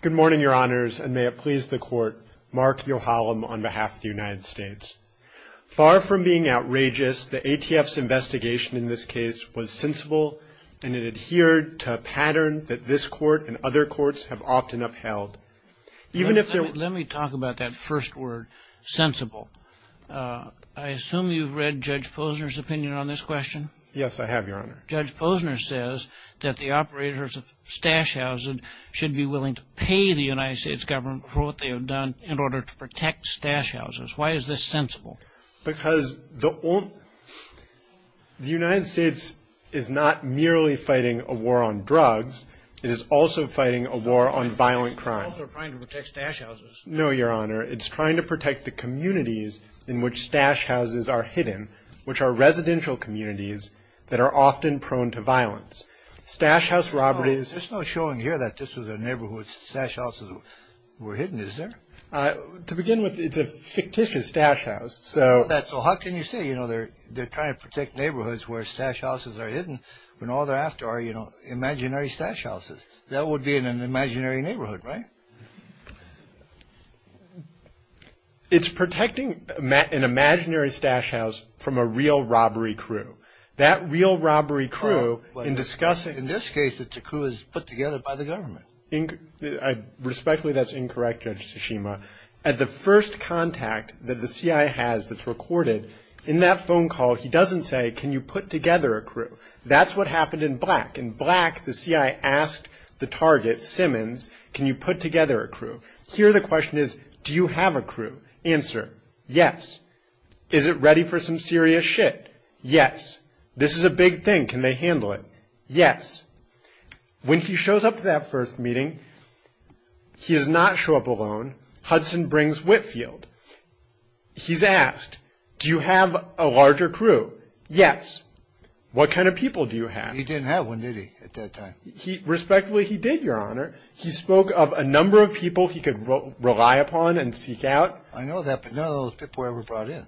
Good morning, Your Honors, and may it please the Court, Mark Yohalam on behalf of the United States. Far from being outrageous, the ATF's investigation in this case was sensible, and it adhered to a pattern that this Court and other courts have often upheld. Let me talk about that first word, sensible. I assume you've read Judge Posner's opinion on this question. Yes, I have, Your Honor. Judge Posner says that the operators of stash houses should be willing to pay the United States government for what they have done in order to protect stash houses. Why is this sensible? Because the United States is not merely fighting a war on drugs. It is also fighting a war on violent crime. It's also trying to protect stash houses. No, Your Honor. It's trying to protect the communities in which stash houses are hidden, which are residential communities that are often prone to violence. Stash house robberies... There's no showing here that this was a neighborhood stash houses were hidden, is there? To begin with, it's a fictitious stash house, so... So how can you say, you know, they're trying to protect neighborhoods where stash houses are hidden when all they're after are, you know, imaginary stash houses? That would be in an imaginary neighborhood, right? It's protecting an imaginary stash house from a real robbery crew. That real robbery crew in discussing... But in this case, it's a crew that's put together by the government. Respectfully, that's incorrect, Judge Tsushima. At the first contact that the CIA has that's recorded, in that phone call, he doesn't say, can you put together a crew? That's what happened in Black. Here the question is, do you have a crew? Answer, yes. Is it ready for some serious shit? Yes. This is a big thing, can they handle it? Yes. When he shows up to that first meeting, he does not show up alone. Hudson brings Whitfield. He's asked, do you have a larger crew? Yes. What kind of people do you have? He didn't have one, did he, at that time? Respectfully, he did, Your Honor. He spoke of a number of people he could rely upon and seek out. I know that, but none of those people were ever brought in.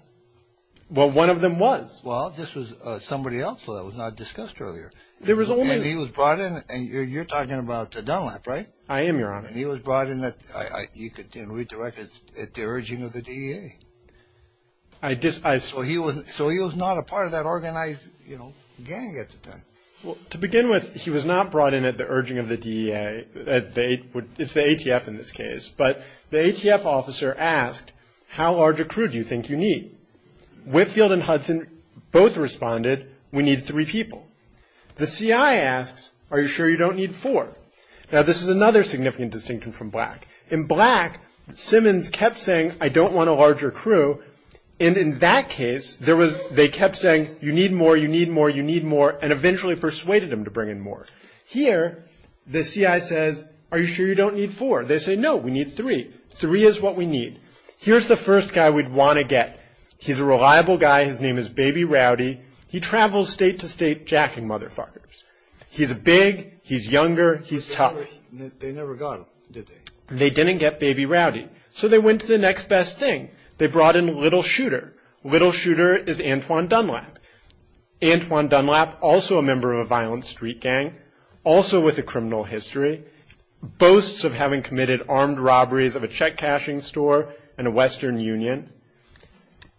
Well, one of them was. Well, this was somebody else that was not discussed earlier. There was only... And he was brought in, and you're talking about Dunlap, right? I am, Your Honor. And he was brought in at, you can read the records, at the urging of the DEA. I... So he was not a part of that organized, you know, gang at the time. Well, to begin with, he was not brought in at the urging of the DEA. It's the ATF in this case. But the ATF officer asked, how large a crew do you think you need? Whitfield and Hudson both responded, we need three people. The CI asks, are you sure you don't need four? Now, this is another significant distinction from Black. In Black, Simmons kept saying, I don't want a larger crew. And in that case, there was, they kept saying, you need more, you need more, you need more. And eventually persuaded him to bring in more. Here, the CI says, are you sure you don't need four? They say, no, we need three. Three is what we need. Here's the first guy we'd want to get. He's a reliable guy. His name is Baby Rowdy. He travels state to state jacking motherfuckers. He's big. He's younger. He's tough. They never got him, did they? They didn't get Baby Rowdy. So they went to the next best thing. They brought in Little Shooter. Little Shooter is Antoine Dunlap. Antoine Dunlap, also a member of a violent street gang, also with a criminal history, boasts of having committed armed robberies of a check cashing store in a western union.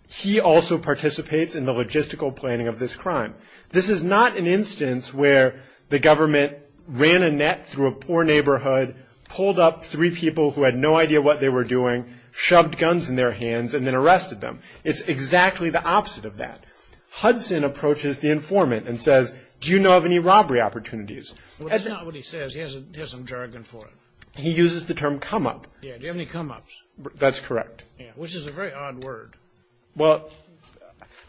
He also participates in the logistical planning of this crime. This is not an instance where the government ran a net through a poor neighborhood, pulled up three people who had no idea what they were doing, shoved guns in their hands, and then arrested them. It's exactly the opposite of that. Hudson approaches the informant and says, do you know of any robbery opportunities? Well, that's not what he says. He has some jargon for it. He uses the term come up. Yeah, do you have any come ups? That's correct. Yeah, which is a very odd word. Well,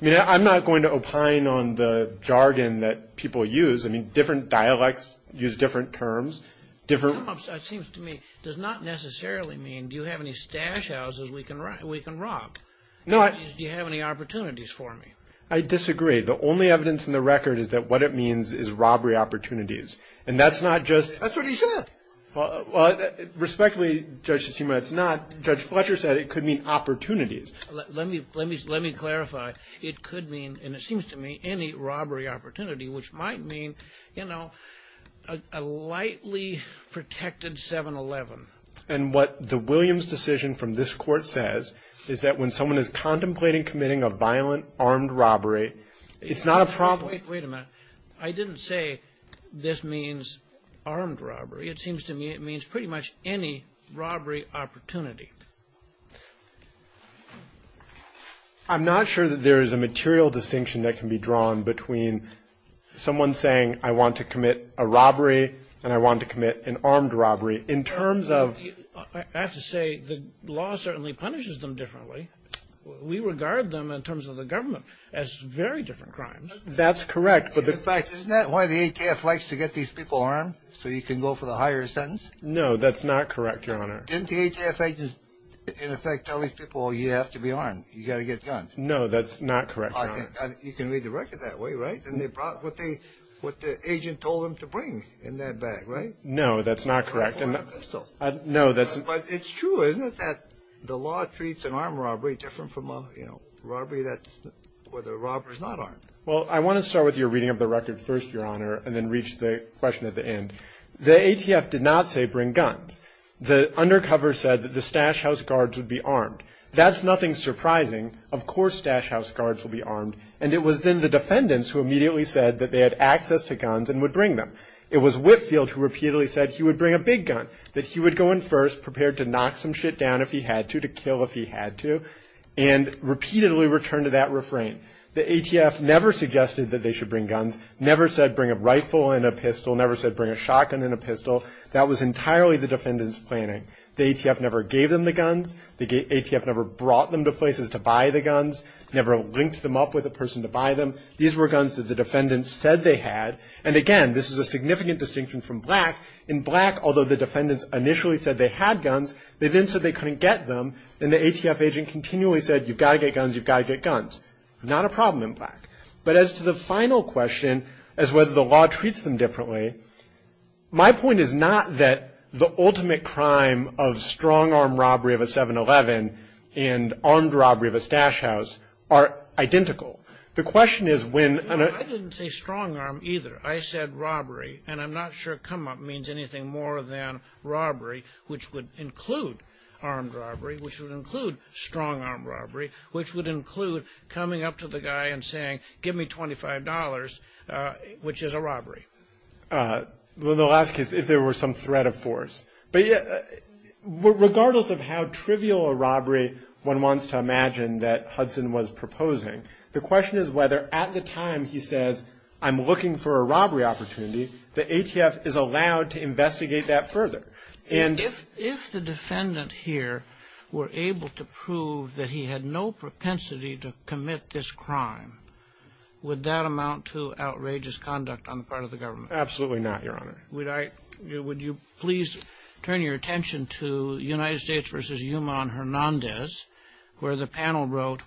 I mean, I'm not going to opine on the jargon that people use. I mean, different dialects use different terms. Come ups, it seems to me, does not necessarily mean do you have any stash houses we can rob. Do you have any opportunities for me? I disagree. The only evidence in the record is that what it means is robbery opportunities. And that's not just. That's what he said. Respectfully, Judge, it's not. Judge Fletcher said it could mean opportunities. Let me clarify. It could mean, and it seems to me, any robbery opportunity, which might mean, you know, a lightly protected 7-11. And what the Williams decision from this Court says is that when someone is contemplating committing a violent armed robbery, it's not a problem. Wait a minute. I didn't say this means armed robbery. It seems to me it means pretty much any robbery opportunity. I'm not sure that there is a material distinction that can be drawn between someone saying I want to commit a robbery and I want to commit an armed robbery in terms of. I have to say the law certainly punishes them differently. We regard them in terms of the government as very different crimes. That's correct. Isn't that why the ATF likes to get these people armed so you can go for the higher sentence? No, that's not correct, Your Honor. Didn't the ATF agents in effect tell these people you have to be armed? You've got to get guns. No, that's not correct, Your Honor. You can read the record that way, right? And they brought what the agent told them to bring in that bag, right? No, that's not correct. No, that's not. But it's true, isn't it, that the law treats an armed robbery different from a robbery that's where the robber is not armed? Well, I want to start with your reading of the record first, Your Honor, and then reach the question at the end. The ATF did not say bring guns. The undercover said that the stash house guards would be armed. That's nothing surprising. Of course stash house guards will be armed. And it was then the defendants who immediately said that they had access to guns and would bring them. It was Whitfield who repeatedly said he would bring a big gun, that he would go in first, prepared to knock some shit down if he had to, to kill if he had to, and repeatedly returned to that refrain. The ATF never suggested that they should bring guns, never said bring a rifle and a pistol, never said bring a shotgun and a pistol. That was entirely the defendants' planning. The ATF never gave them the guns. The ATF never brought them to places to buy the guns, never linked them up with a person to buy them. These were guns that the defendants said they had. And, again, this is a significant distinction from Black. In Black, although the defendants initially said they had guns, they then said they couldn't get them, and the ATF agent continually said you've got to get guns, you've got to get guns. Not a problem in Black. But as to the final question, as whether the law treats them differently, my point is not that the ultimate crime of strong-arm robbery of a 7-Eleven and armed robbery of a stash house are identical. The question is when an ---- I didn't say strong-arm either. I said robbery, and I'm not sure come-up means anything more than robbery, which would include armed robbery, which would include strong-arm robbery, which would include coming up to the guy and saying give me $25, which is a robbery. Well, the last case, if there were some threat of force. But regardless of how trivial a robbery one wants to imagine that Hudson was proposing, the question is whether at the time he says I'm looking for a robbery opportunity, the ATF is allowed to investigate that further. And ---- If the defendant here were able to prove that he had no propensity to commit this crime, would that amount to outrageous conduct on the part of the government? Absolutely not, Your Honor. Would you please turn your attention to United States v. Yuman Hernandez, where the panel wrote,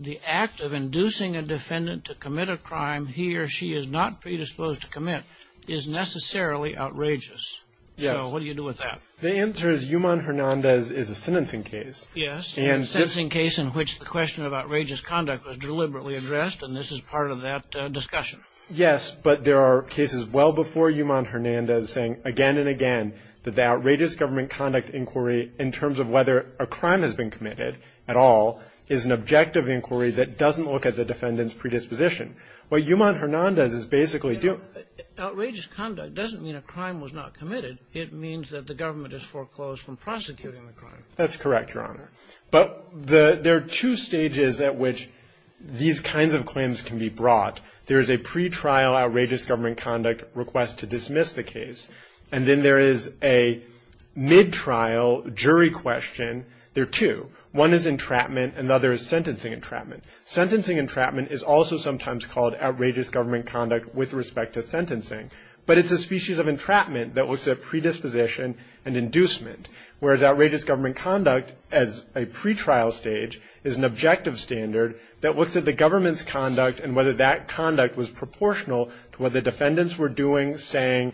the act of inducing a defendant to commit a crime he or she is not predisposed to commit is necessarily outrageous. Yes. So what do you do with that? The answer is Yuman Hernandez is a sentencing case. Yes, a sentencing case in which the question of outrageous conduct was deliberately addressed, and this is part of that discussion. Yes, but there are cases well before Yuman Hernandez saying again and again that the outrageous government conduct inquiry in terms of whether a crime has been committed at all is an objective inquiry that doesn't look at the defendant's predisposition. What Yuman Hernandez is basically doing ---- Outrageous conduct doesn't mean a crime was not committed. It means that the government has foreclosed from prosecuting the crime. That's correct, Your Honor. But there are two stages at which these kinds of claims can be brought. There is a pretrial outrageous government conduct request to dismiss the case, and then there is a mid-trial jury question. There are two. One is entrapment and the other is sentencing entrapment. Sentencing entrapment is also sometimes called outrageous government conduct with respect to sentencing, but it's a species of entrapment that looks at predisposition and inducement, whereas outrageous government conduct as a pretrial stage is an objective standard that looks at the government's conduct and whether that conduct was proportional to what the defendants were doing, saying.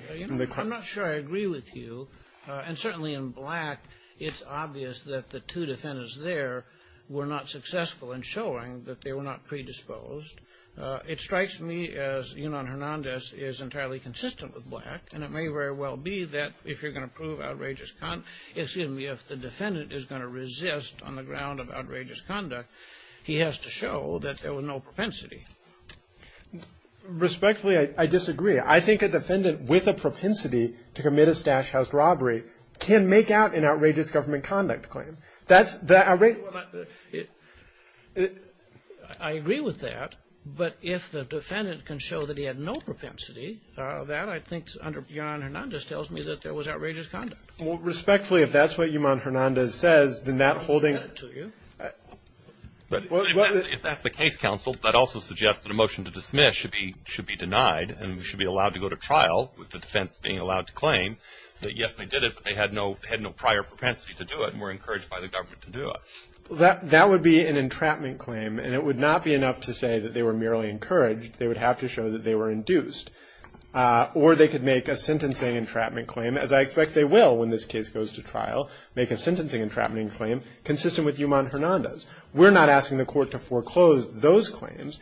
I'm not sure I agree with you. And certainly in Black, it's obvious that the two defendants there were not successful in showing that they were not predisposed. It strikes me as Yuman Hernandez is entirely consistent with Black, and it may very well be that if you're going to prove outrageous ---- excuse me, if the defendant is going to resist on the ground of outrageous conduct, he has to show that there was no propensity. Respectfully, I disagree. I think a defendant with a propensity to commit a stash house robbery can make out an outrageous government conduct claim. That's the outrageous ---- I agree with that, but if the defendant can show that he had no propensity, that I think under Yuman Hernandez tells me that there was outrageous conduct. Respectfully, if that's what Yuman Hernandez says, then that holding ---- If that's the case, counsel, that also suggests that a motion to dismiss should be denied and should be allowed to go to trial with the defense being allowed to claim that, yes, they did it, but they had no prior propensity to do it and were encouraged by the government to do it. That would be an entrapment claim, and it would not be enough to say that they were merely encouraged. They would have to show that they were induced. Or they could make a sentencing entrapment claim, as I expect they will when this case goes to trial, make a sentencing entrapment claim consistent with Yuman Hernandez. We're not asking the court to foreclose those claims.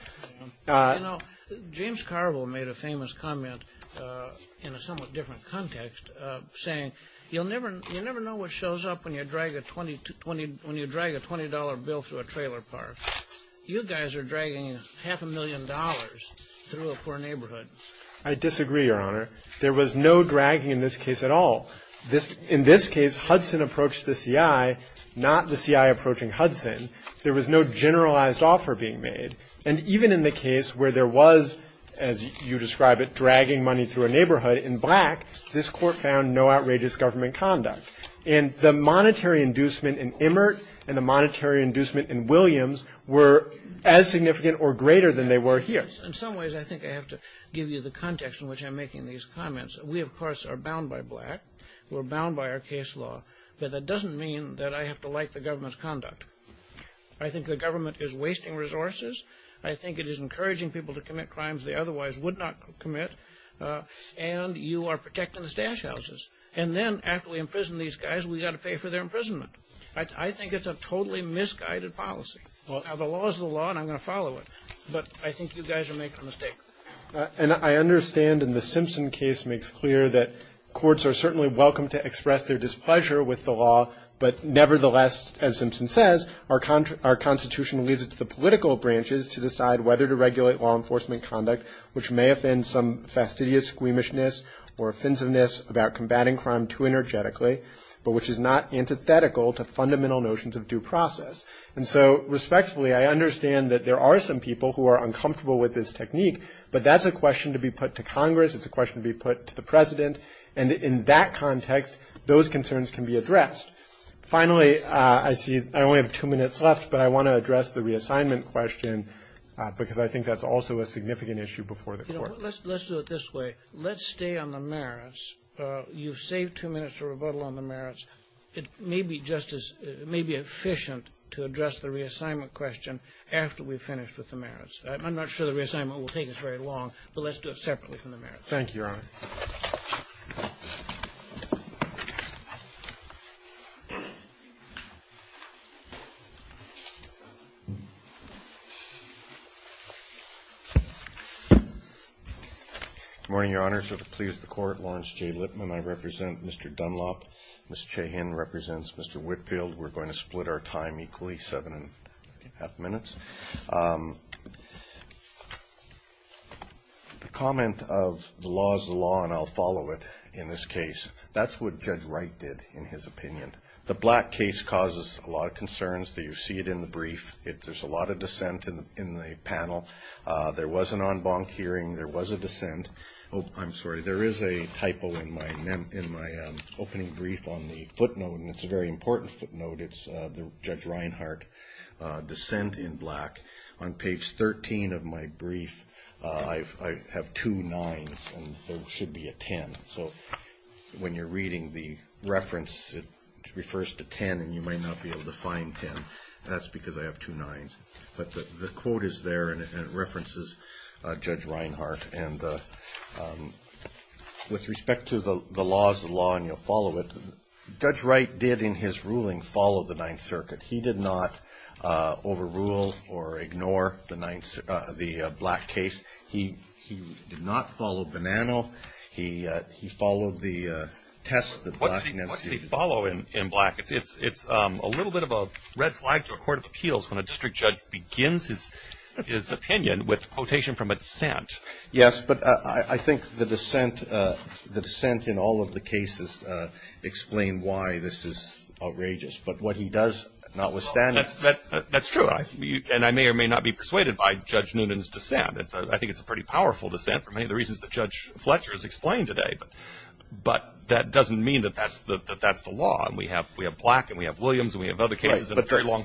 You know, James Carville made a famous comment in a somewhat different context saying you'll never know what shows up when you drag a $20 bill through a trailer park. You guys are dragging half a million dollars through a poor neighborhood. I disagree, Your Honor. There was no dragging in this case at all. In this case, Hudson approached the CI, not the CI approaching Hudson. There was no generalized offer being made. And even in the case where there was, as you describe it, dragging money through a neighborhood, in Black, this court found no outrageous government conduct. And the monetary inducement in Emmert and the monetary inducement in Williams were as significant or greater than they were here. In some ways, I think I have to give you the context in which I'm making these comments. We, of course, are bound by Black. We're bound by our case law. But that doesn't mean that I have to like the government's conduct. I think the government is wasting resources. I think it is encouraging people to commit crimes they otherwise would not commit. And you are protecting the stash houses. And then after we imprison these guys, we've got to pay for their imprisonment. I think it's a totally misguided policy. The law is the law, and I'm going to follow it. But I think you guys are making a mistake. And I understand, and the Simpson case makes clear, that courts are certainly welcome to express their displeasure with the law. But nevertheless, as Simpson says, our Constitution leaves it to the political branches to decide whether to regulate law enforcement conduct, which may offend some fastidious squeamishness or offensiveness about combating crime too energetically, but which is not antithetical to fundamental notions of due process. And so, respectfully, I understand that there are some people who are uncomfortable with this technique, but that's a question to be put to Congress. It's a question to be put to the President. And in that context, those concerns can be addressed. Finally, I see I only have two minutes left, but I want to address the reassignment question because I think that's also a significant issue before the Court. Let's do it this way. Let's stay on the merits. You've saved two minutes to rebuttal on the merits. It may be just as – it may be efficient to address the reassignment question after we've finished with the merits. I'm not sure the reassignment will take us very long, but let's do it separately from the merits. Roberts, Jr. Thank you, Your Honor. Good morning, Your Honor. So to please the Court, Lawrence J. Lippman. I represent Mr. Dunlop. Ms. Chahin represents Mr. Whitfield. We're going to split our time equally, seven and a half minutes. The comment of the law is the law and I'll follow it in this case, that's what Judge Wright did in his opinion. The Black case causes a lot of concerns. You see it in the brief. There's a lot of dissent in the panel. There was an en banc hearing. There was a dissent. I'm sorry, there is a typo in my opening brief on the footnote, and it's a very important footnote. It's the Judge Reinhart dissent in Black. On page 13 of my brief, I have two nines and there should be a ten. So when you're reading the reference, it refers to ten, and you might not be able to find ten. That's because I have two nines. But the quote is there and it references Judge Reinhart. And with respect to the law is the law and you'll follow it. Judge Wright did in his ruling follow the Ninth Circuit. He did not overrule or ignore the Black case. He did not follow Bonanno. He followed the test that Blackness. What did he follow in Black? It's a little bit of a red flag to a court of appeals when a district judge begins his opinion with a quotation from a dissent. Yes, but I think the dissent in all of the cases explain why this is outrageous. But what he does not withstand. That's true. And I may or may not be persuaded by Judge Noonan's dissent. I think it's a pretty powerful dissent for many of the reasons that Judge Fletcher has explained today. But that doesn't mean that that's the law. And we have Black and we have Williams and we have other cases in a very long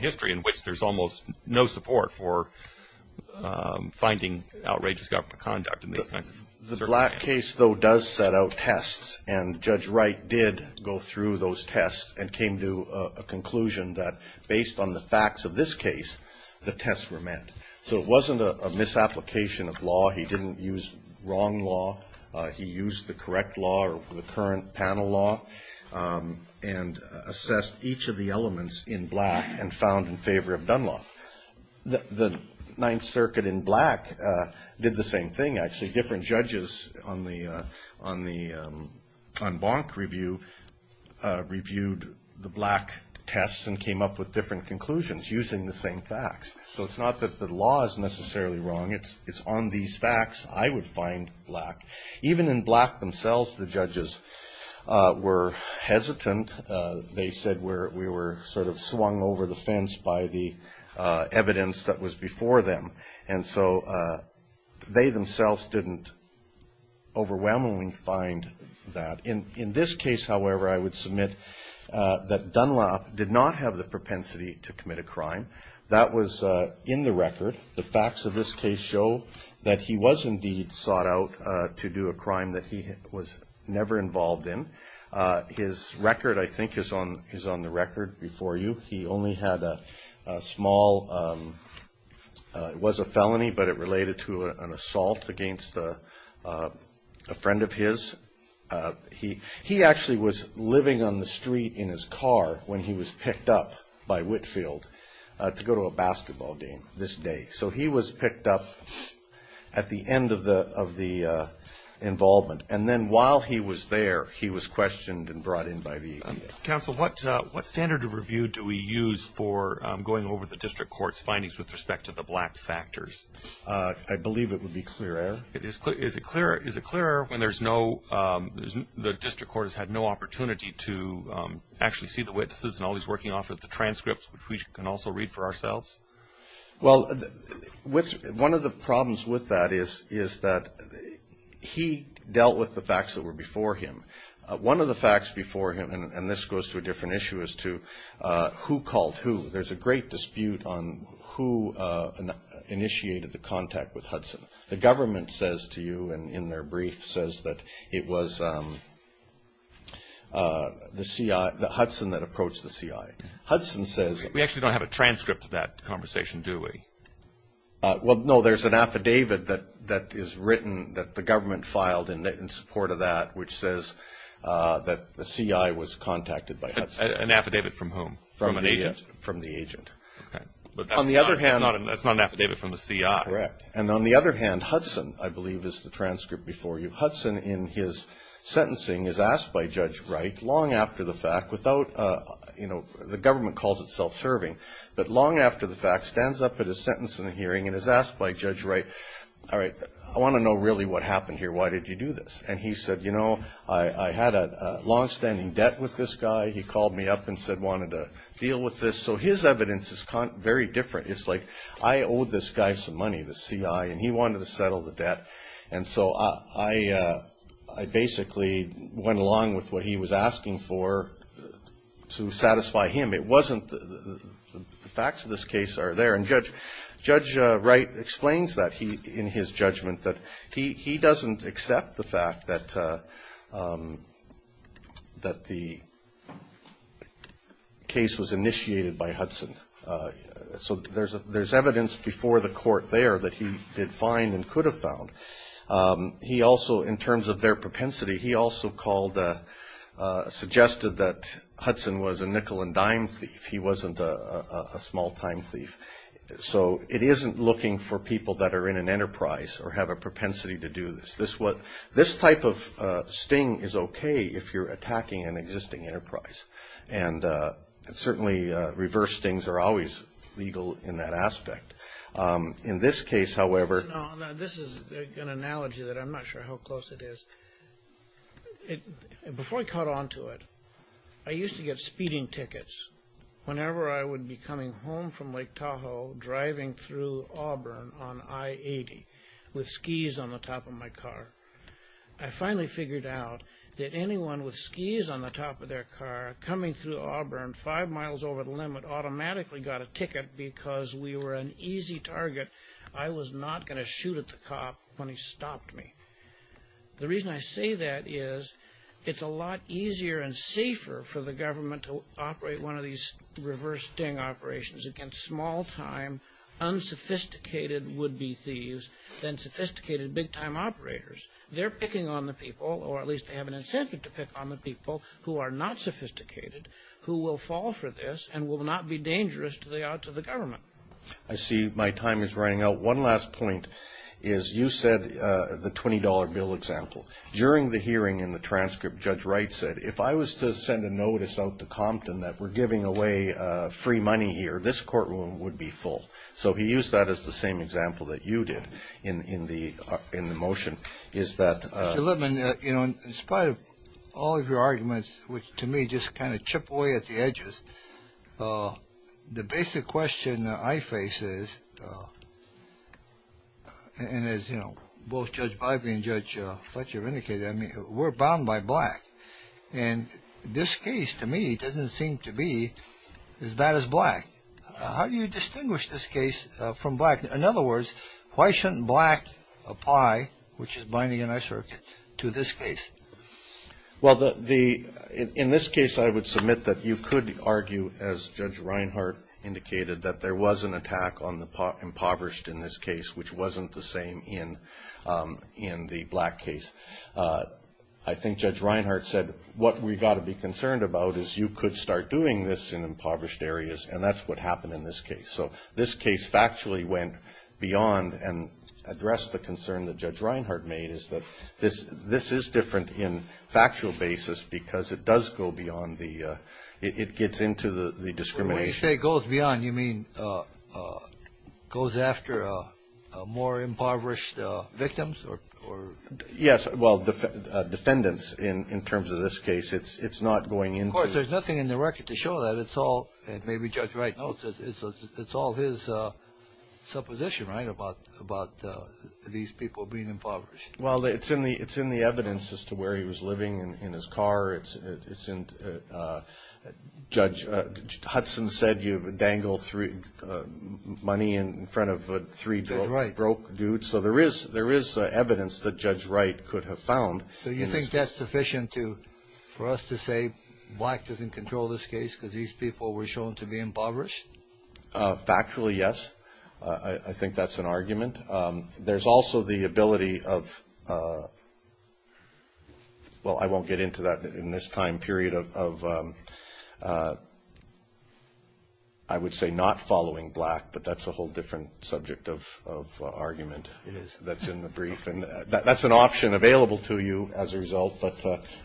The Black case, though, does set out tests. And Judge Wright did go through those tests and came to a conclusion that based on the facts of this case, the tests were met. So it wasn't a misapplication of law. He didn't use wrong law. He used the correct law or the current panel law and assessed each of the elements in Black and found in favor of Dunlop. The Ninth Circuit in Black did the same thing, actually. Different judges on Bonk Review reviewed the Black tests and came up with different conclusions using the same facts. So it's not that the law is necessarily wrong. It's on these facts I would find Black. Even in Black themselves, the judges were hesitant. They said we were sort of swung over the fence by the evidence that was before them. And so they themselves didn't overwhelmingly find that. In this case, however, I would submit that Dunlop did not have the propensity to commit a crime. That was in the record. The facts of this case show that he was indeed sought out to do a crime that he was never involved in. His record, I think, is on the record before you. He only had a small, it was a felony, but it related to an assault against a friend of his. He actually was living on the street in his car when he was picked up by Whitfield to go to a basketball game this day. So he was picked up at the end of the involvement. And then while he was there, he was questioned and brought in by the enemy. Counsel, what standard of review do we use for going over the district court's findings with respect to the Black factors? I believe it would be clear error. Is it clear error when the district court has had no opportunity to actually see the witnesses and all these working off of the transcripts, which we can also read for ourselves? Well, one of the problems with that is that he dealt with the facts that were before him. One of the facts before him, and this goes to a different issue, is to who called who. There's a great dispute on who initiated the contact with Hudson. The government says to you in their brief says that it was Hudson that approached the CIA. We actually don't have a transcript of that conversation, do we? Well, no. There's an affidavit that is written that the government filed in support of that, which says that the CIA was contacted by Hudson. An affidavit from whom? From an agent? From the agent. Okay. But that's not an affidavit from the CIA. Correct. And on the other hand, Hudson, I believe, is the transcript before you. Hudson, in his sentencing, is asked by Judge Wright, long after the fact, without, you know, the government calls it self-serving, but long after the fact, stands up at his sentence in the hearing and is asked by Judge Wright, all right, I want to know really what happened here. Why did you do this? And he said, you know, I had a longstanding debt with this guy. He called me up and said he wanted to deal with this. So his evidence is very different. It's like I owed this guy some money, the CIA, and he wanted to settle the debt. And so I basically went along with what he was asking for to satisfy him. It wasn't the facts of this case are there. And Judge Wright explains that in his judgment, that he doesn't accept the fact that the case was initiated by Hudson. So there's evidence before the court there that he did find and could have found. He also, in terms of their propensity, he also called, suggested that Hudson was a nickel-and-dime thief. He wasn't a small-time thief. So it isn't looking for people that are in an enterprise or have a propensity to do this. This type of sting is okay if you're attacking an existing enterprise. And certainly reverse stings are always legal in that aspect. In this case, however— No, this is an analogy that I'm not sure how close it is. Before I caught on to it, I used to get speeding tickets whenever I would be coming home from Lake Tahoe, driving through Auburn on I-80 with skis on the top of my car. I finally figured out that anyone with skis on the top of their car coming through Auburn five miles over the limit automatically got a ticket because we were an easy target. I was not going to shoot at the cop when he stopped me. The reason I say that is it's a lot easier and safer for the government to operate one of these reverse sting operations against small-time, unsophisticated would-be thieves than sophisticated big-time operators. They're picking on the people, or at least they have an incentive to pick on the people, who are not sophisticated, who will fall for this and will not be dangerous to the government. I see my time is running out. One last point is you said the $20 bill example. During the hearing in the transcript, Judge Wright said, if I was to send a notice out to Compton that we're giving away free money here, this courtroom would be full. So he used that as the same example that you did in the motion. Mr. Littman, in spite of all of your arguments, which to me just kind of chip away at the edges, the basic question that I face is, and as both Judge Bybee and Judge Fletcher have indicated, we're bound by black, and this case, to me, doesn't seem to be as bad as black. How do you distinguish this case from black? In other words, why shouldn't black apply, which is binding on our circuit, to this case? Well, in this case, I would submit that you could argue, as Judge Reinhart indicated, that there was an attack on the impoverished in this case, which wasn't the same in the black case. I think Judge Reinhart said what we've got to be concerned about is you could start doing this in impoverished areas, and that's what happened in this case. So this case factually went beyond and addressed the concern that Judge Reinhart made, is that this is different in factual basis because it does go beyond the ‑‑ it gets into the discrimination. When you say goes beyond, you mean goes after more impoverished victims or ‑‑ Yes, well, defendants in terms of this case. It's not going into ‑‑ Of course, there's nothing in the record to show that. It's all, and maybe Judge Wright notes, it's all his supposition, right, about these people being impoverished. Well, it's in the evidence as to where he was living in his car. It's in ‑‑ Judge Hudson said you dangle money in front of three broke dudes, so there is evidence that Judge Wright could have found. So you think that's sufficient for us to say black doesn't control this case because these people were shown to be impoverished? Factually, yes. I think that's an argument. There's also the ability of, well, I won't get into that in this time period, of I would say not following black, but that's a whole different subject of argument. It is. That's in the brief. That's an option available to you as a result, but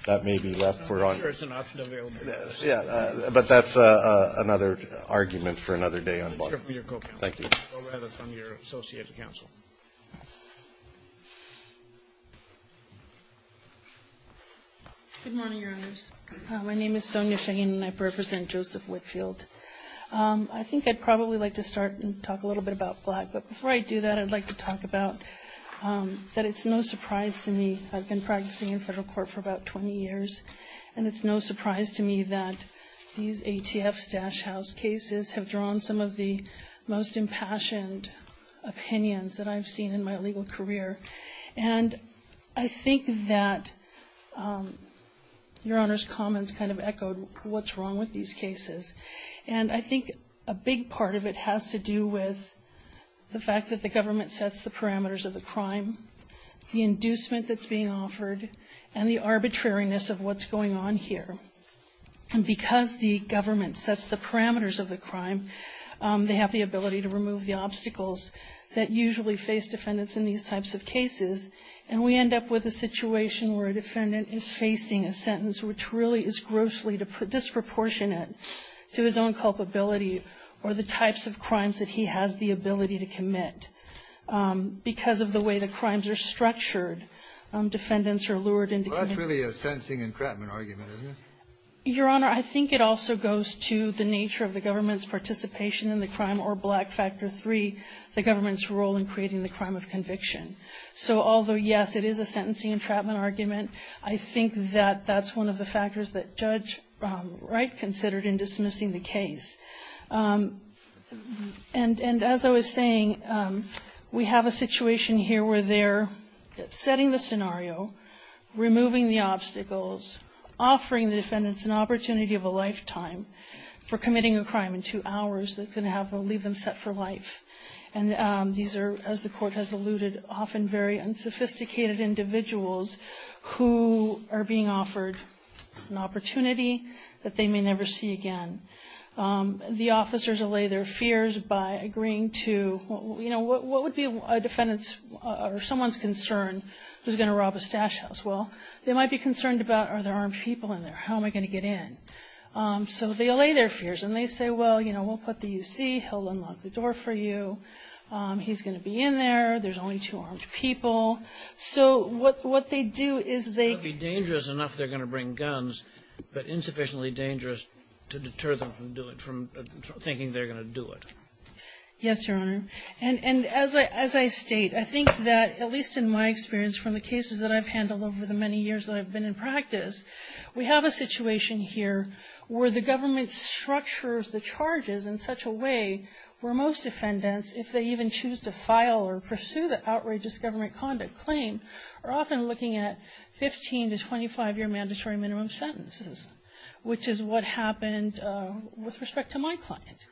that may be left for ‑‑ I'm not sure it's an option available. Yeah, but that's another argument for another day. Thank you. Good morning, Your Honors. My name is Sonia Shaheen and I represent Joseph Whitfield. I think I'd probably like to start and talk a little bit about black, but before I do that I'd like to talk about that it's no surprise to me, I've been practicing in federal court for about 20 years, and it's no surprise to me that these ATF stash house cases have drawn some of the most impassioned opinions that I've seen in my legal career. And I think that Your Honor's comments kind of echoed what's wrong with these cases, and I think a big part of it has to do with the fact that the government sets the parameters of the crime, the inducement that's being offered, and the arbitrariness of what's going on here. And because the government sets the parameters of the crime, they have the ability to remove the obstacles that usually face defendants in these types of cases, and we end up with a situation where a defendant is facing a sentence which really is grossly disproportionate to his own culpability or the types of crimes that he has the ability to commit. Because of the way the crimes are structured, defendants are lured into ‑‑ Your Honor, I think it also goes to the nature of the government's participation in the crime or Black Factor III, the government's role in creating the crime of conviction. So although, yes, it is a sentencing entrapment argument, I think that that's one of the factors that Judge Wright considered in dismissing the case. And as I was saying, we have a situation here where they're setting the scenario, removing the obstacles, offering the defendants an opportunity of a lifetime for committing a crime in two hours that's going to leave them set for life. And these are, as the Court has alluded, often very unsophisticated individuals who are being offered an opportunity that they may never see again. The officers allay their fears by agreeing to, you know, what would be a defendant's or someone's concern who's going to rob a stash house. Well, they might be concerned about are there armed people in there? How am I going to get in? So they allay their fears. And they say, well, you know, we'll put the U.C. He'll unlock the door for you. He's going to be in there. There's only two armed people. So what they do is they ‑‑ It would be dangerous enough they're going to bring guns, but insufficiently dangerous to deter them from doing it, from thinking they're going to do it. Yes, Your Honor. And as I state, I think that, at least in my experience from the cases that I've handled over the many years that I've been in practice, we have a situation here where the government structures the charges in such a way where most defendants, if they even choose to file or pursue the outrageous government conduct claim, are often looking at 15 to 25‑year mandatory minimum sentences, which is what happened with respect to my client.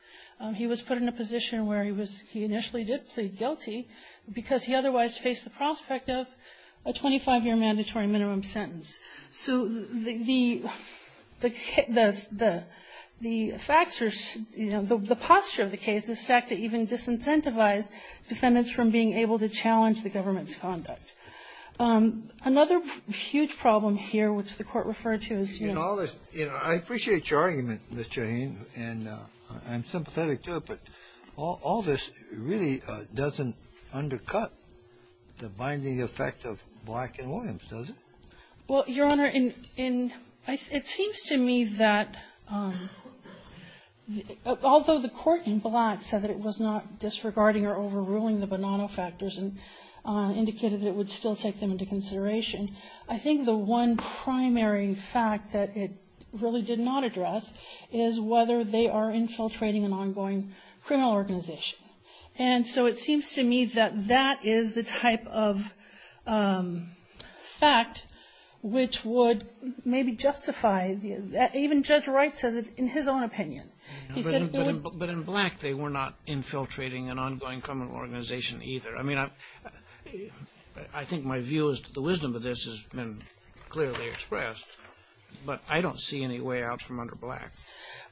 He was put in a position where he was ‑‑ he initially did plead guilty because he otherwise faced the prospect of a 25‑year mandatory minimum sentence. So the ‑‑ the facts are, you know, the posture of the case is stacked to even disincentivize defendants from being able to challenge the government's conduct. Another huge problem here, which the Court referred to is, you know ‑‑ I appreciate your argument, Ms. Shaheen, and I'm sympathetic to it, but all this really doesn't undercut the binding effect of Black and Williams, does it? Well, Your Honor, in ‑‑ it seems to me that although the court in Black said that it was not disregarding or overruling the Bonanno factors and indicated that it would still take them into consideration, I think the one primary fact that it really did not address is whether they are infiltrating an ongoing criminal organization. And so it seems to me that that is the type of fact which would maybe justify the ‑‑ even Judge Wright says it in his own opinion. But in Black they were not infiltrating an ongoing criminal organization either. I mean, I think my view is that the wisdom of this has been clearly expressed, but I don't see any way out from under Black.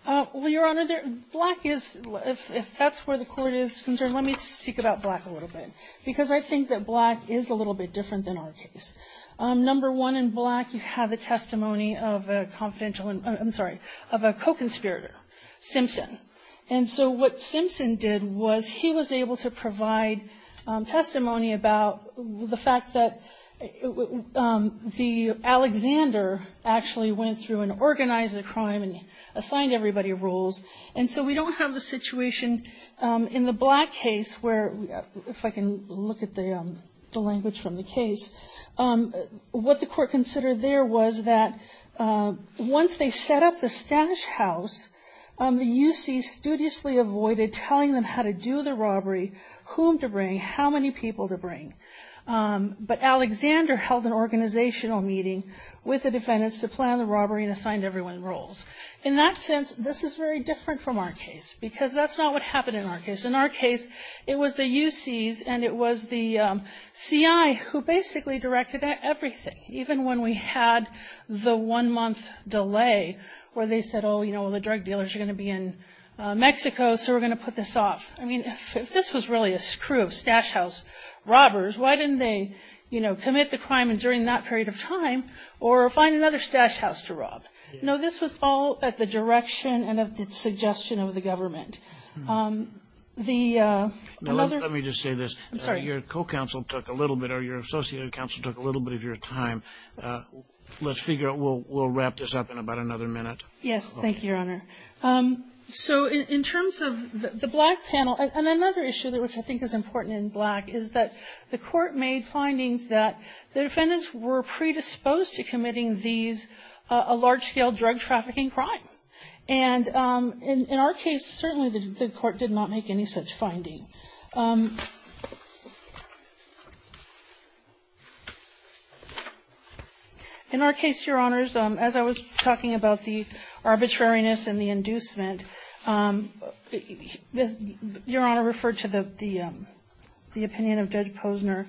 Well, Your Honor, Black is ‑‑ if that's where the court is concerned, let me speak about Black a little bit, because I think that Black is a little bit different than our case. Number one, in Black you have a testimony of a confidential ‑‑ I'm sorry, of a co‑conspirator, Simpson. And so what Simpson did was he was able to provide testimony about the fact that Alexander actually went through and organized the crime and assigned everybody rules. And so we don't have the situation in the Black case where, if I can look at the language from the case, what the court considered there was that once they set up the stash house, the UC studiously avoided telling them how to do the robbery, whom to bring, how many people to bring. But Alexander held an organizational meeting with the defendants to plan the robbery and assigned everyone rules. In that sense, this is very different from our case, because that's not what happened in our case. In our case, it was the UCs and it was the CI who basically directed everything, even when we had the one‑month delay where they said, oh, you know, the drug dealers are going to be in Mexico, so we're going to put this off. I mean, if this was really a crew of stash house robbers, why didn't they, you know, commit the crime during that period of time or find another stash house to rob? No, this was all at the direction and at the suggestion of the government. The other ‑‑ No, let me just say this. I'm sorry. Your co‑counsel took a little bit, or your associate counsel took a little bit of your time. Let's figure out, we'll wrap this up in about another minute. Yes, thank you, Your Honor. So in terms of the black panel, and another issue which I think is important in black is that the court made findings that the defendants were predisposed to committing these, a large‑scale drug trafficking crime. And in our case, certainly the court did not make any such finding. In our case, Your Honors, as I was talking about the arbitrariness and the inducement, Your Honor referred to the opinion of Judge Posner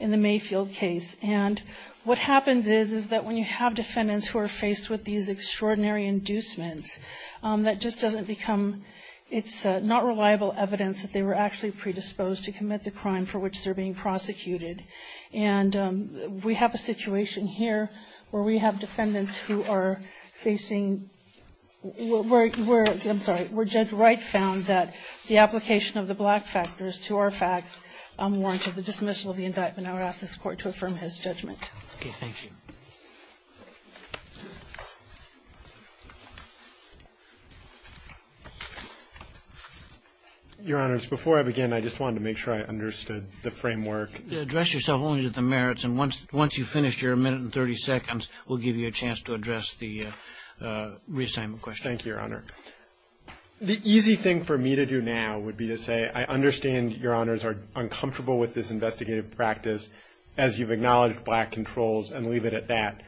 in the Mayfield case. And what happens is, is that when you have defendants who are faced with these extraordinary inducements, that just doesn't become ‑‑ it's not reliable evidence that they were actually predisposed to commit the crime for which they're being prosecuted. And we have a situation here where we have defendants who are facing ‑‑ I'm sorry, where Judge Wright found that the application of the black factors to our facts warranted the dismissal of the indictment. I would ask this court to affirm his judgment. Okay, thank you. Your Honors, before I begin, I just wanted to make sure I understood the framework. Address yourself only to the merits, and once you finish your minute and 30 seconds, we'll give you a chance to address the reassignment question. Thank you, Your Honor. The easy thing for me to do now would be to say, I understand Your Honors are uncomfortable with this investigative practice as you've acknowledged black controls and leave it at that.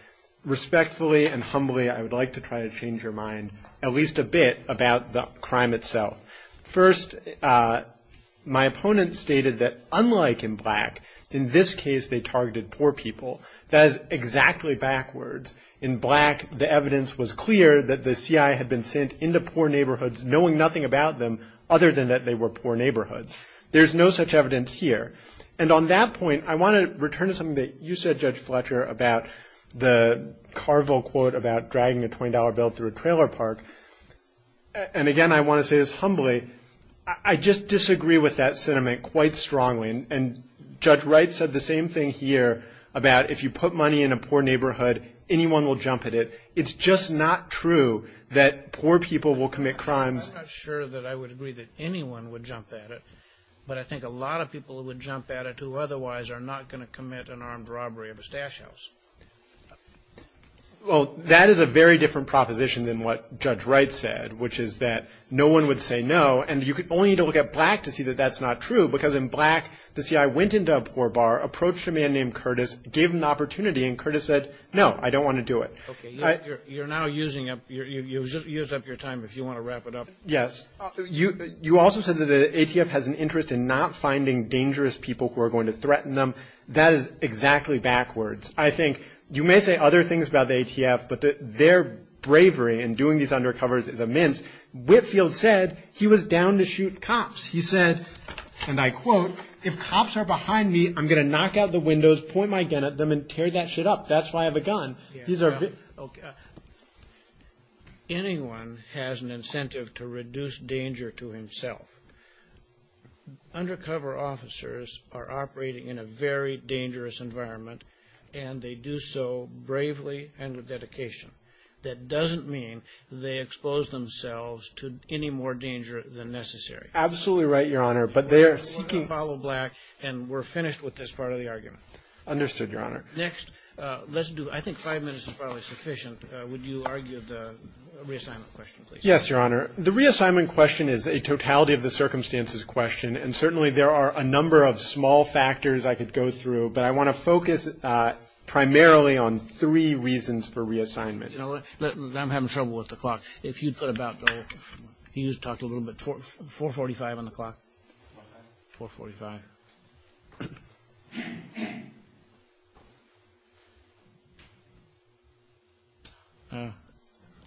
Respectfully and humbly, I would like to try to change your mind at least a bit about the crime itself. First, my opponent stated that unlike in black, in this case they targeted poor people. That is exactly backwards. In black, the evidence was clear that the CIA had been sent into poor neighborhoods knowing nothing about them other than that they were poor neighborhoods. There's no such evidence here. And on that point, I want to return to something that you said, Judge Fletcher, about the Carville quote about dragging a $20 bill through a trailer park. And again, I want to say this humbly, I just disagree with that sentiment quite strongly. And Judge Wright said the same thing here about if you put money in a poor neighborhood, anyone will jump at it. It's just not true that poor people will commit crimes. I'm not sure that I would agree that anyone would jump at it, but I think a lot of people would jump at it who otherwise are not going to commit an armed robbery of a stash house. Well, that is a very different proposition than what Judge Wright said, which is that no one would say no. And you only need to look at black to see that that's not true, because in black, the CIA went into a poor bar, approached a man named Curtis, gave him the opportunity, and Curtis said, no, I don't want to do it. Okay. You're now using up your time if you want to wrap it up. Yes. You also said that the ATF has an interest in not finding dangerous people who are going to threaten them. That is exactly backwards. I think you may say other things about the ATF, but their bravery in doing these undercovers is immense. Whitfield said he was down to shoot cops. He said, and I quote, if cops are behind me, I'm going to knock out the windows, point my gun at them, and tear that shit up. That's why I have a gun. Anyone has an incentive to reduce danger to himself. Undercover officers are operating in a very dangerous environment, and they do so bravely and with dedication. That doesn't mean they expose themselves to any more danger than necessary. Absolutely right, Your Honor. But they are seeking to follow black, and we're finished with this part of the argument. Understood, Your Honor. Next, let's do, I think five minutes is probably sufficient. Would you argue the reassignment question, please? Yes, Your Honor. The reassignment question is a totality-of-the-circumstances question, and certainly there are a number of small factors I could go through, but I want to focus primarily on three reasons for reassignment. I'm having trouble with the clock. If you'd put about, you talked a little bit, 4.45 on the clock. 4.45.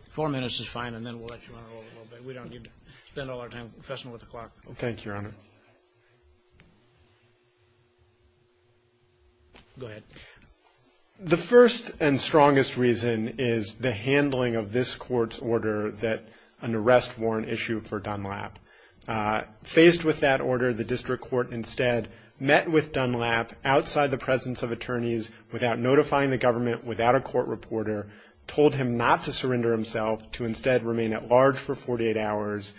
Four minutes is fine, and then we'll let you run it over a little bit. We don't need to spend all our time fussing with the clock. Thank you, Your Honor. Go ahead. The first and strongest reason is the handling of this Court's order that an arrest warrant issue for Dunlap. Faced with that order, the district court instead met with Dunlap outside the presence of attorneys without notifying the government, without a court reporter, told him not to surrender himself, to instead remain at large for 48 hours,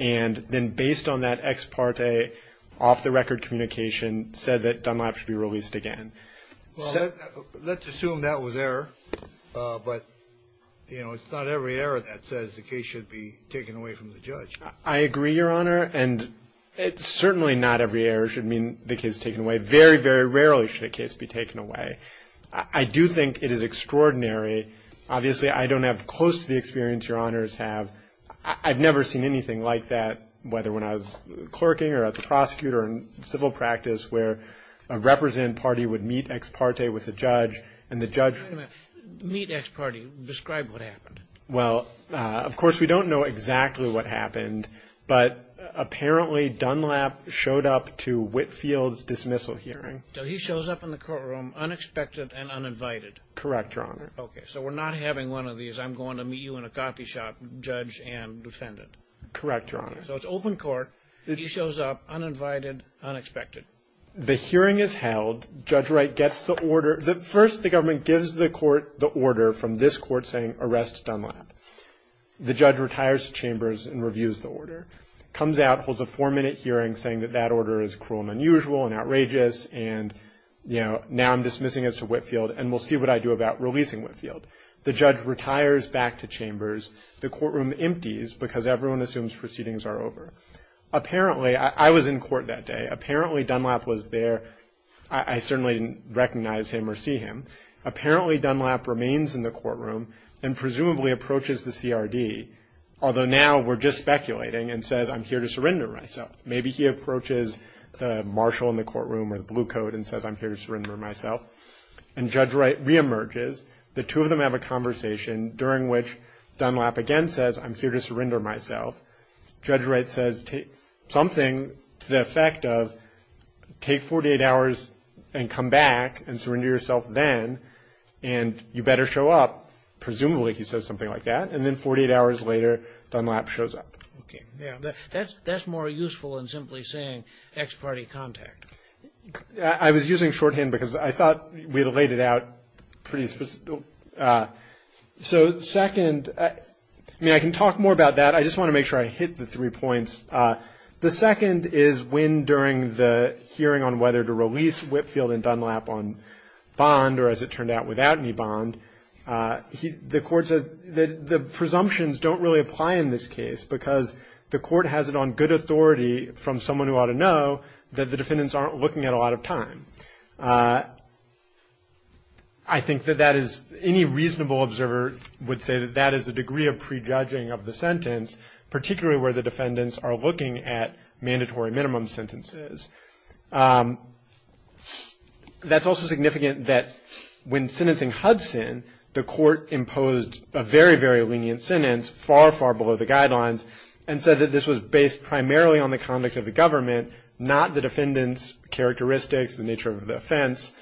and then based on that ex parte, off-the-record communication, said that Dunlap should be released again. Well, let's assume that was error, but, you know, it's not every error that says the case should be taken away from the judge. I agree, Your Honor, and certainly not every error should mean the case is taken away. Very, very rarely should a case be taken away. I do think it is extraordinary. Obviously, I don't have close to the experience Your Honors have. I've never seen anything like that, whether when I was clerking or as a prosecutor in civil practice, where a representative party would meet ex parte with a judge, and the judge – Wait a minute. Meet ex parte. Describe what happened. Well, of course, we don't know exactly what happened, but apparently Dunlap showed up to Whitfield's dismissal hearing. So he shows up in the courtroom unexpected and uninvited. Correct, Your Honor. Okay, so we're not having one of these. I'm going to meet you in a coffee shop, judge and defendant. Correct, Your Honor. So it's open court. He shows up, uninvited, unexpected. The hearing is held. Judge Wright gets the order. First, the government gives the court the order from this court saying, Arrest Dunlap. The judge retires to Chambers and reviews the order. Comes out, holds a four-minute hearing saying that that order is cruel and unusual and outrageous and, you know, now I'm dismissing this to Whitfield and we'll see what I do about releasing Whitfield. The judge retires back to Chambers. The courtroom empties because everyone assumes proceedings are over. Apparently – I was in court that day. Apparently Dunlap was there. I certainly didn't recognize him or see him. Apparently Dunlap remains in the courtroom and presumably approaches the CRD, although now we're just speculating, and says, I'm here to surrender myself. Maybe he approaches the marshal in the courtroom or the blue coat and says, I'm here to surrender myself. And Judge Wright reemerges. The two of them have a conversation during which Dunlap again says, I'm here to surrender myself. Judge Wright says something to the effect of take 48 hours and come back and surrender yourself then and you better show up. Presumably he says something like that. And then 48 hours later Dunlap shows up. Okay. That's more useful than simply saying ex parte contact. I was using shorthand because I thought we had laid it out pretty – so second, I mean, I can talk more about that. I just want to make sure I hit the three points. The second is when during the hearing on whether to release Whitfield and Dunlap on bond or, as it turned out, without any bond, the court says the presumptions don't really apply in this case because the court has it on good authority from someone who ought to know that the defendants aren't looking at a lot of time. I think that that is – any reasonable observer would say that that is a degree of prejudging of the sentence, particularly where the defendants are looking at mandatory minimum sentences. That's also significant that when sentencing Hudson, the court imposed a very, very lenient sentence far, far below the guidelines and said that this was based primarily on the conduct of the government, not the defendant's characteristics, the nature of the offense,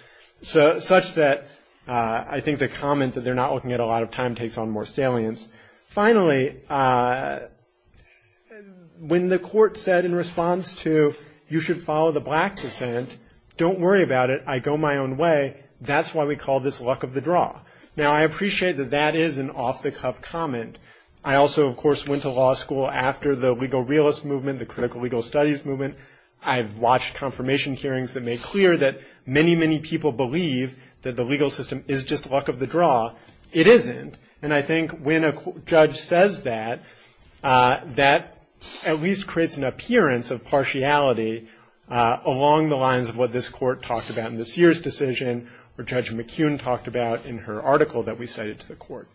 such that I think the comment that they're not looking at a lot of time takes on more salience. Finally, when the court said in response to you should follow the black descent, don't worry about it. I go my own way. That's why we call this luck of the draw. Now, I appreciate that that is an off-the-cuff comment. I also, of course, went to law school after the legal realist movement, the critical legal studies movement. I've watched confirmation hearings that make clear that many, many people believe that the legal system is just luck of the draw. It isn't. And I think when a judge says that, that at least creates an appearance of partiality along the lines of what this court talked about in the Sears decision or Judge McKeown talked about in her article that we cited to the court.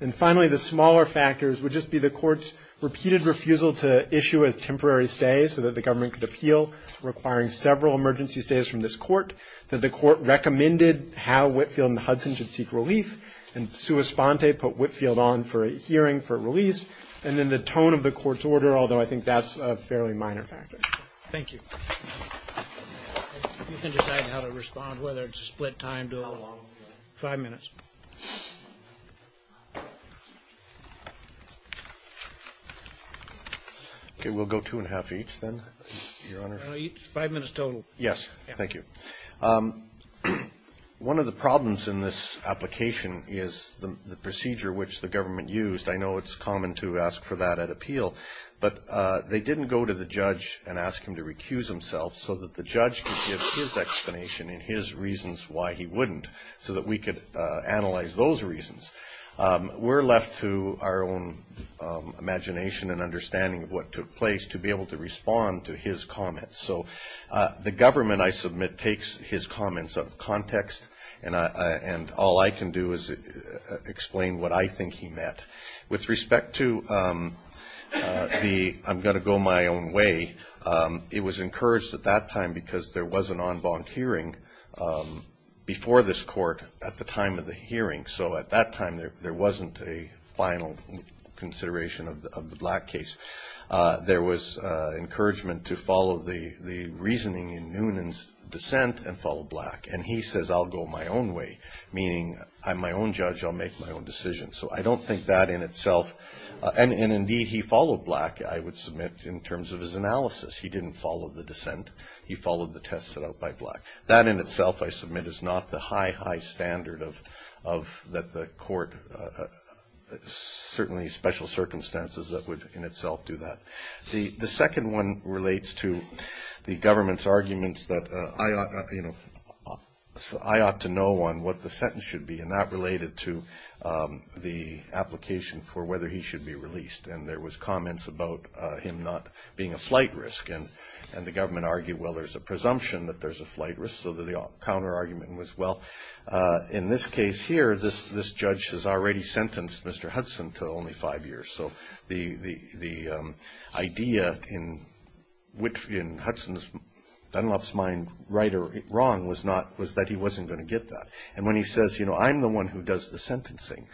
And finally, the smaller factors would just be the court's repeated refusal to issue a temporary stay so that the government could appeal, requiring several emergency stays from this court, that the court recommended how Whitfield and Hudson should seek relief, and sua sponte put Whitfield on for a hearing, for a release, and then the tone of the court's order, although I think that's a fairly minor factor. Thank you. You can decide how to respond, whether it's a split time, do it all. Five minutes. Okay. We'll go two and a half each then, Your Honor. Five minutes total. Yes. Thank you. One of the problems in this application is the procedure which the government used. I know it's common to ask for that at appeal, but they didn't go to the judge and ask him to recuse himself so that the judge could give his explanation and his reasons why he wouldn't, so that we could analyze those reasons. We're left to our own imagination and understanding of what took place to be able to respond to his comments. So the government, I submit, takes his comments out of context, and all I can do is explain what I think he meant. With respect to the I'm going to go my own way, it was encouraged at that time because there was an en banc hearing before this court at the time of the hearing, so at that time there wasn't a final consideration of the black case. There was encouragement to follow the reasoning in Noonan's dissent and follow black. And he says I'll go my own way, meaning I'm my own judge, I'll make my own decision. So I don't think that in itself, and indeed he followed black, I would submit, in terms of his analysis. He didn't follow the dissent. He followed the test set out by black. That in itself, I submit, is not the high, high standard that the court, certainly special circumstances, that would in itself do that. The second one relates to the government's arguments that I ought to know on what the sentence should be, and that related to the application for whether he should be released. And there was comments about him not being a flight risk. And the government argued, well, there's a presumption that there's a flight risk, so the counter argument was, well, in this case here, this judge has already sentenced Mr. Hudson to only five years. So the idea in Hudson's, Dunlop's mind, right or wrong, was that he wasn't going to get that. And when he says, you know, I'm the one who does the sentencing,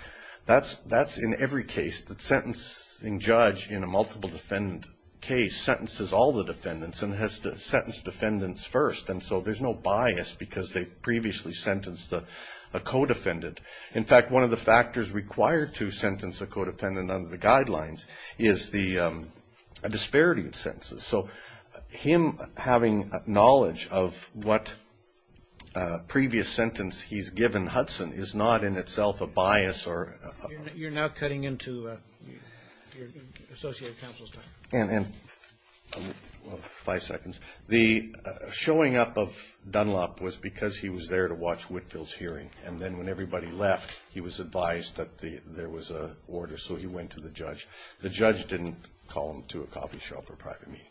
that's in every case that sentencing judge in a multiple defendant case sentences all the defendants and has to sentence defendants first. And so there's no bias because they've previously sentenced a co-defendant. In fact, one of the factors required to sentence a co-defendant under the guidelines is a disparity of sentences. So him having knowledge of what previous sentence he's given Hudson is not in itself a bias or a problem. You're now cutting into your associated counsel's time. Five seconds. The showing up of Dunlop was because he was there to watch Whitfield's hearing, and then when everybody left, he was advised that there was an order, so he went to the judge. The judge didn't call him to a coffee shop or private meeting.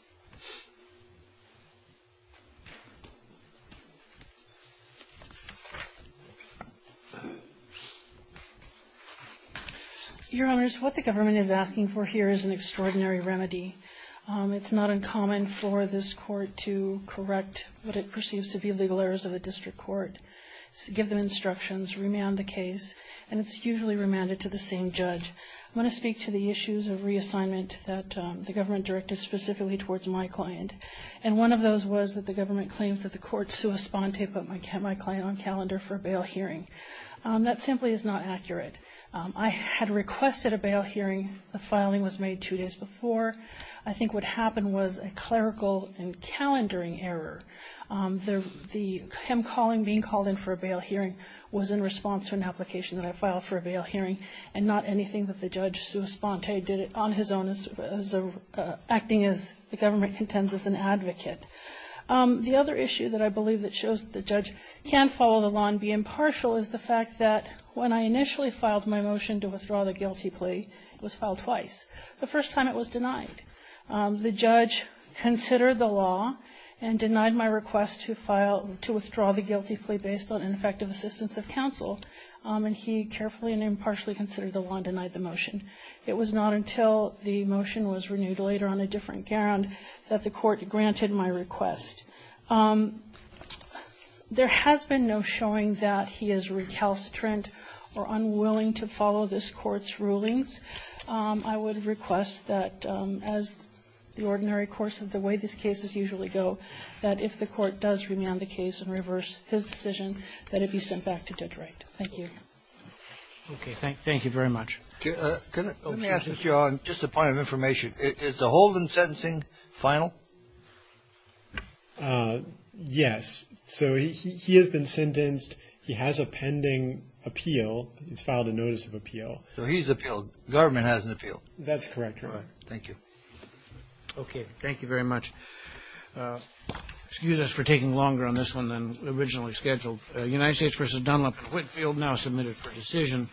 Your Honors, what the government is asking for here is an extraordinary remedy. It's not uncommon for this court to correct what it perceives to be legal errors of a district court, give them instructions, remand the case, and it's usually remanded to the same judge. I'm going to speak to the issues of reassignment that the government directed specifically towards my client. And one of those was that the government claims that the court sua sponte put my client on calendar for a bail hearing. That simply is not accurate. I had requested a bail hearing. The filing was made two days before. I think what happened was a clerical and calendaring error. Him being called in for a bail hearing was in response to an application that I filed for a bail hearing and not anything that the judge sua sponte did on his own, acting as the government contends as an advocate. The other issue that I believe that shows the judge can follow the law and be impartial is the fact that when I initially filed my motion to withdraw the guilty plea, it was filed twice. The first time it was denied. The judge considered the law and denied my request to withdraw the guilty plea based on ineffective assistance of counsel, and he carefully and impartially considered the law and denied the motion. It was not until the motion was renewed later on a different ground that the court granted my request. There has been no showing that he is recalcitrant or unwilling to follow this court's rulings. I would request that as the ordinary course of the way these cases usually go, that if the court does remand the case and reverse his decision, that it be sent back to Detroit. Thank you. Roberts. Okay. Thank you very much. Kennedy. Let me ask you on just a point of information. Is the Holden sentencing final? Yes. So he has been sentenced. He has a pending appeal. He's filed a notice of appeal. So he's appealed. Government has an appeal. That's correct, Your Honor. Thank you. Okay. Thank you very much. Excuse us for taking longer on this one than originally scheduled. United States v. Dunlap and Whitfield now submitted for decision.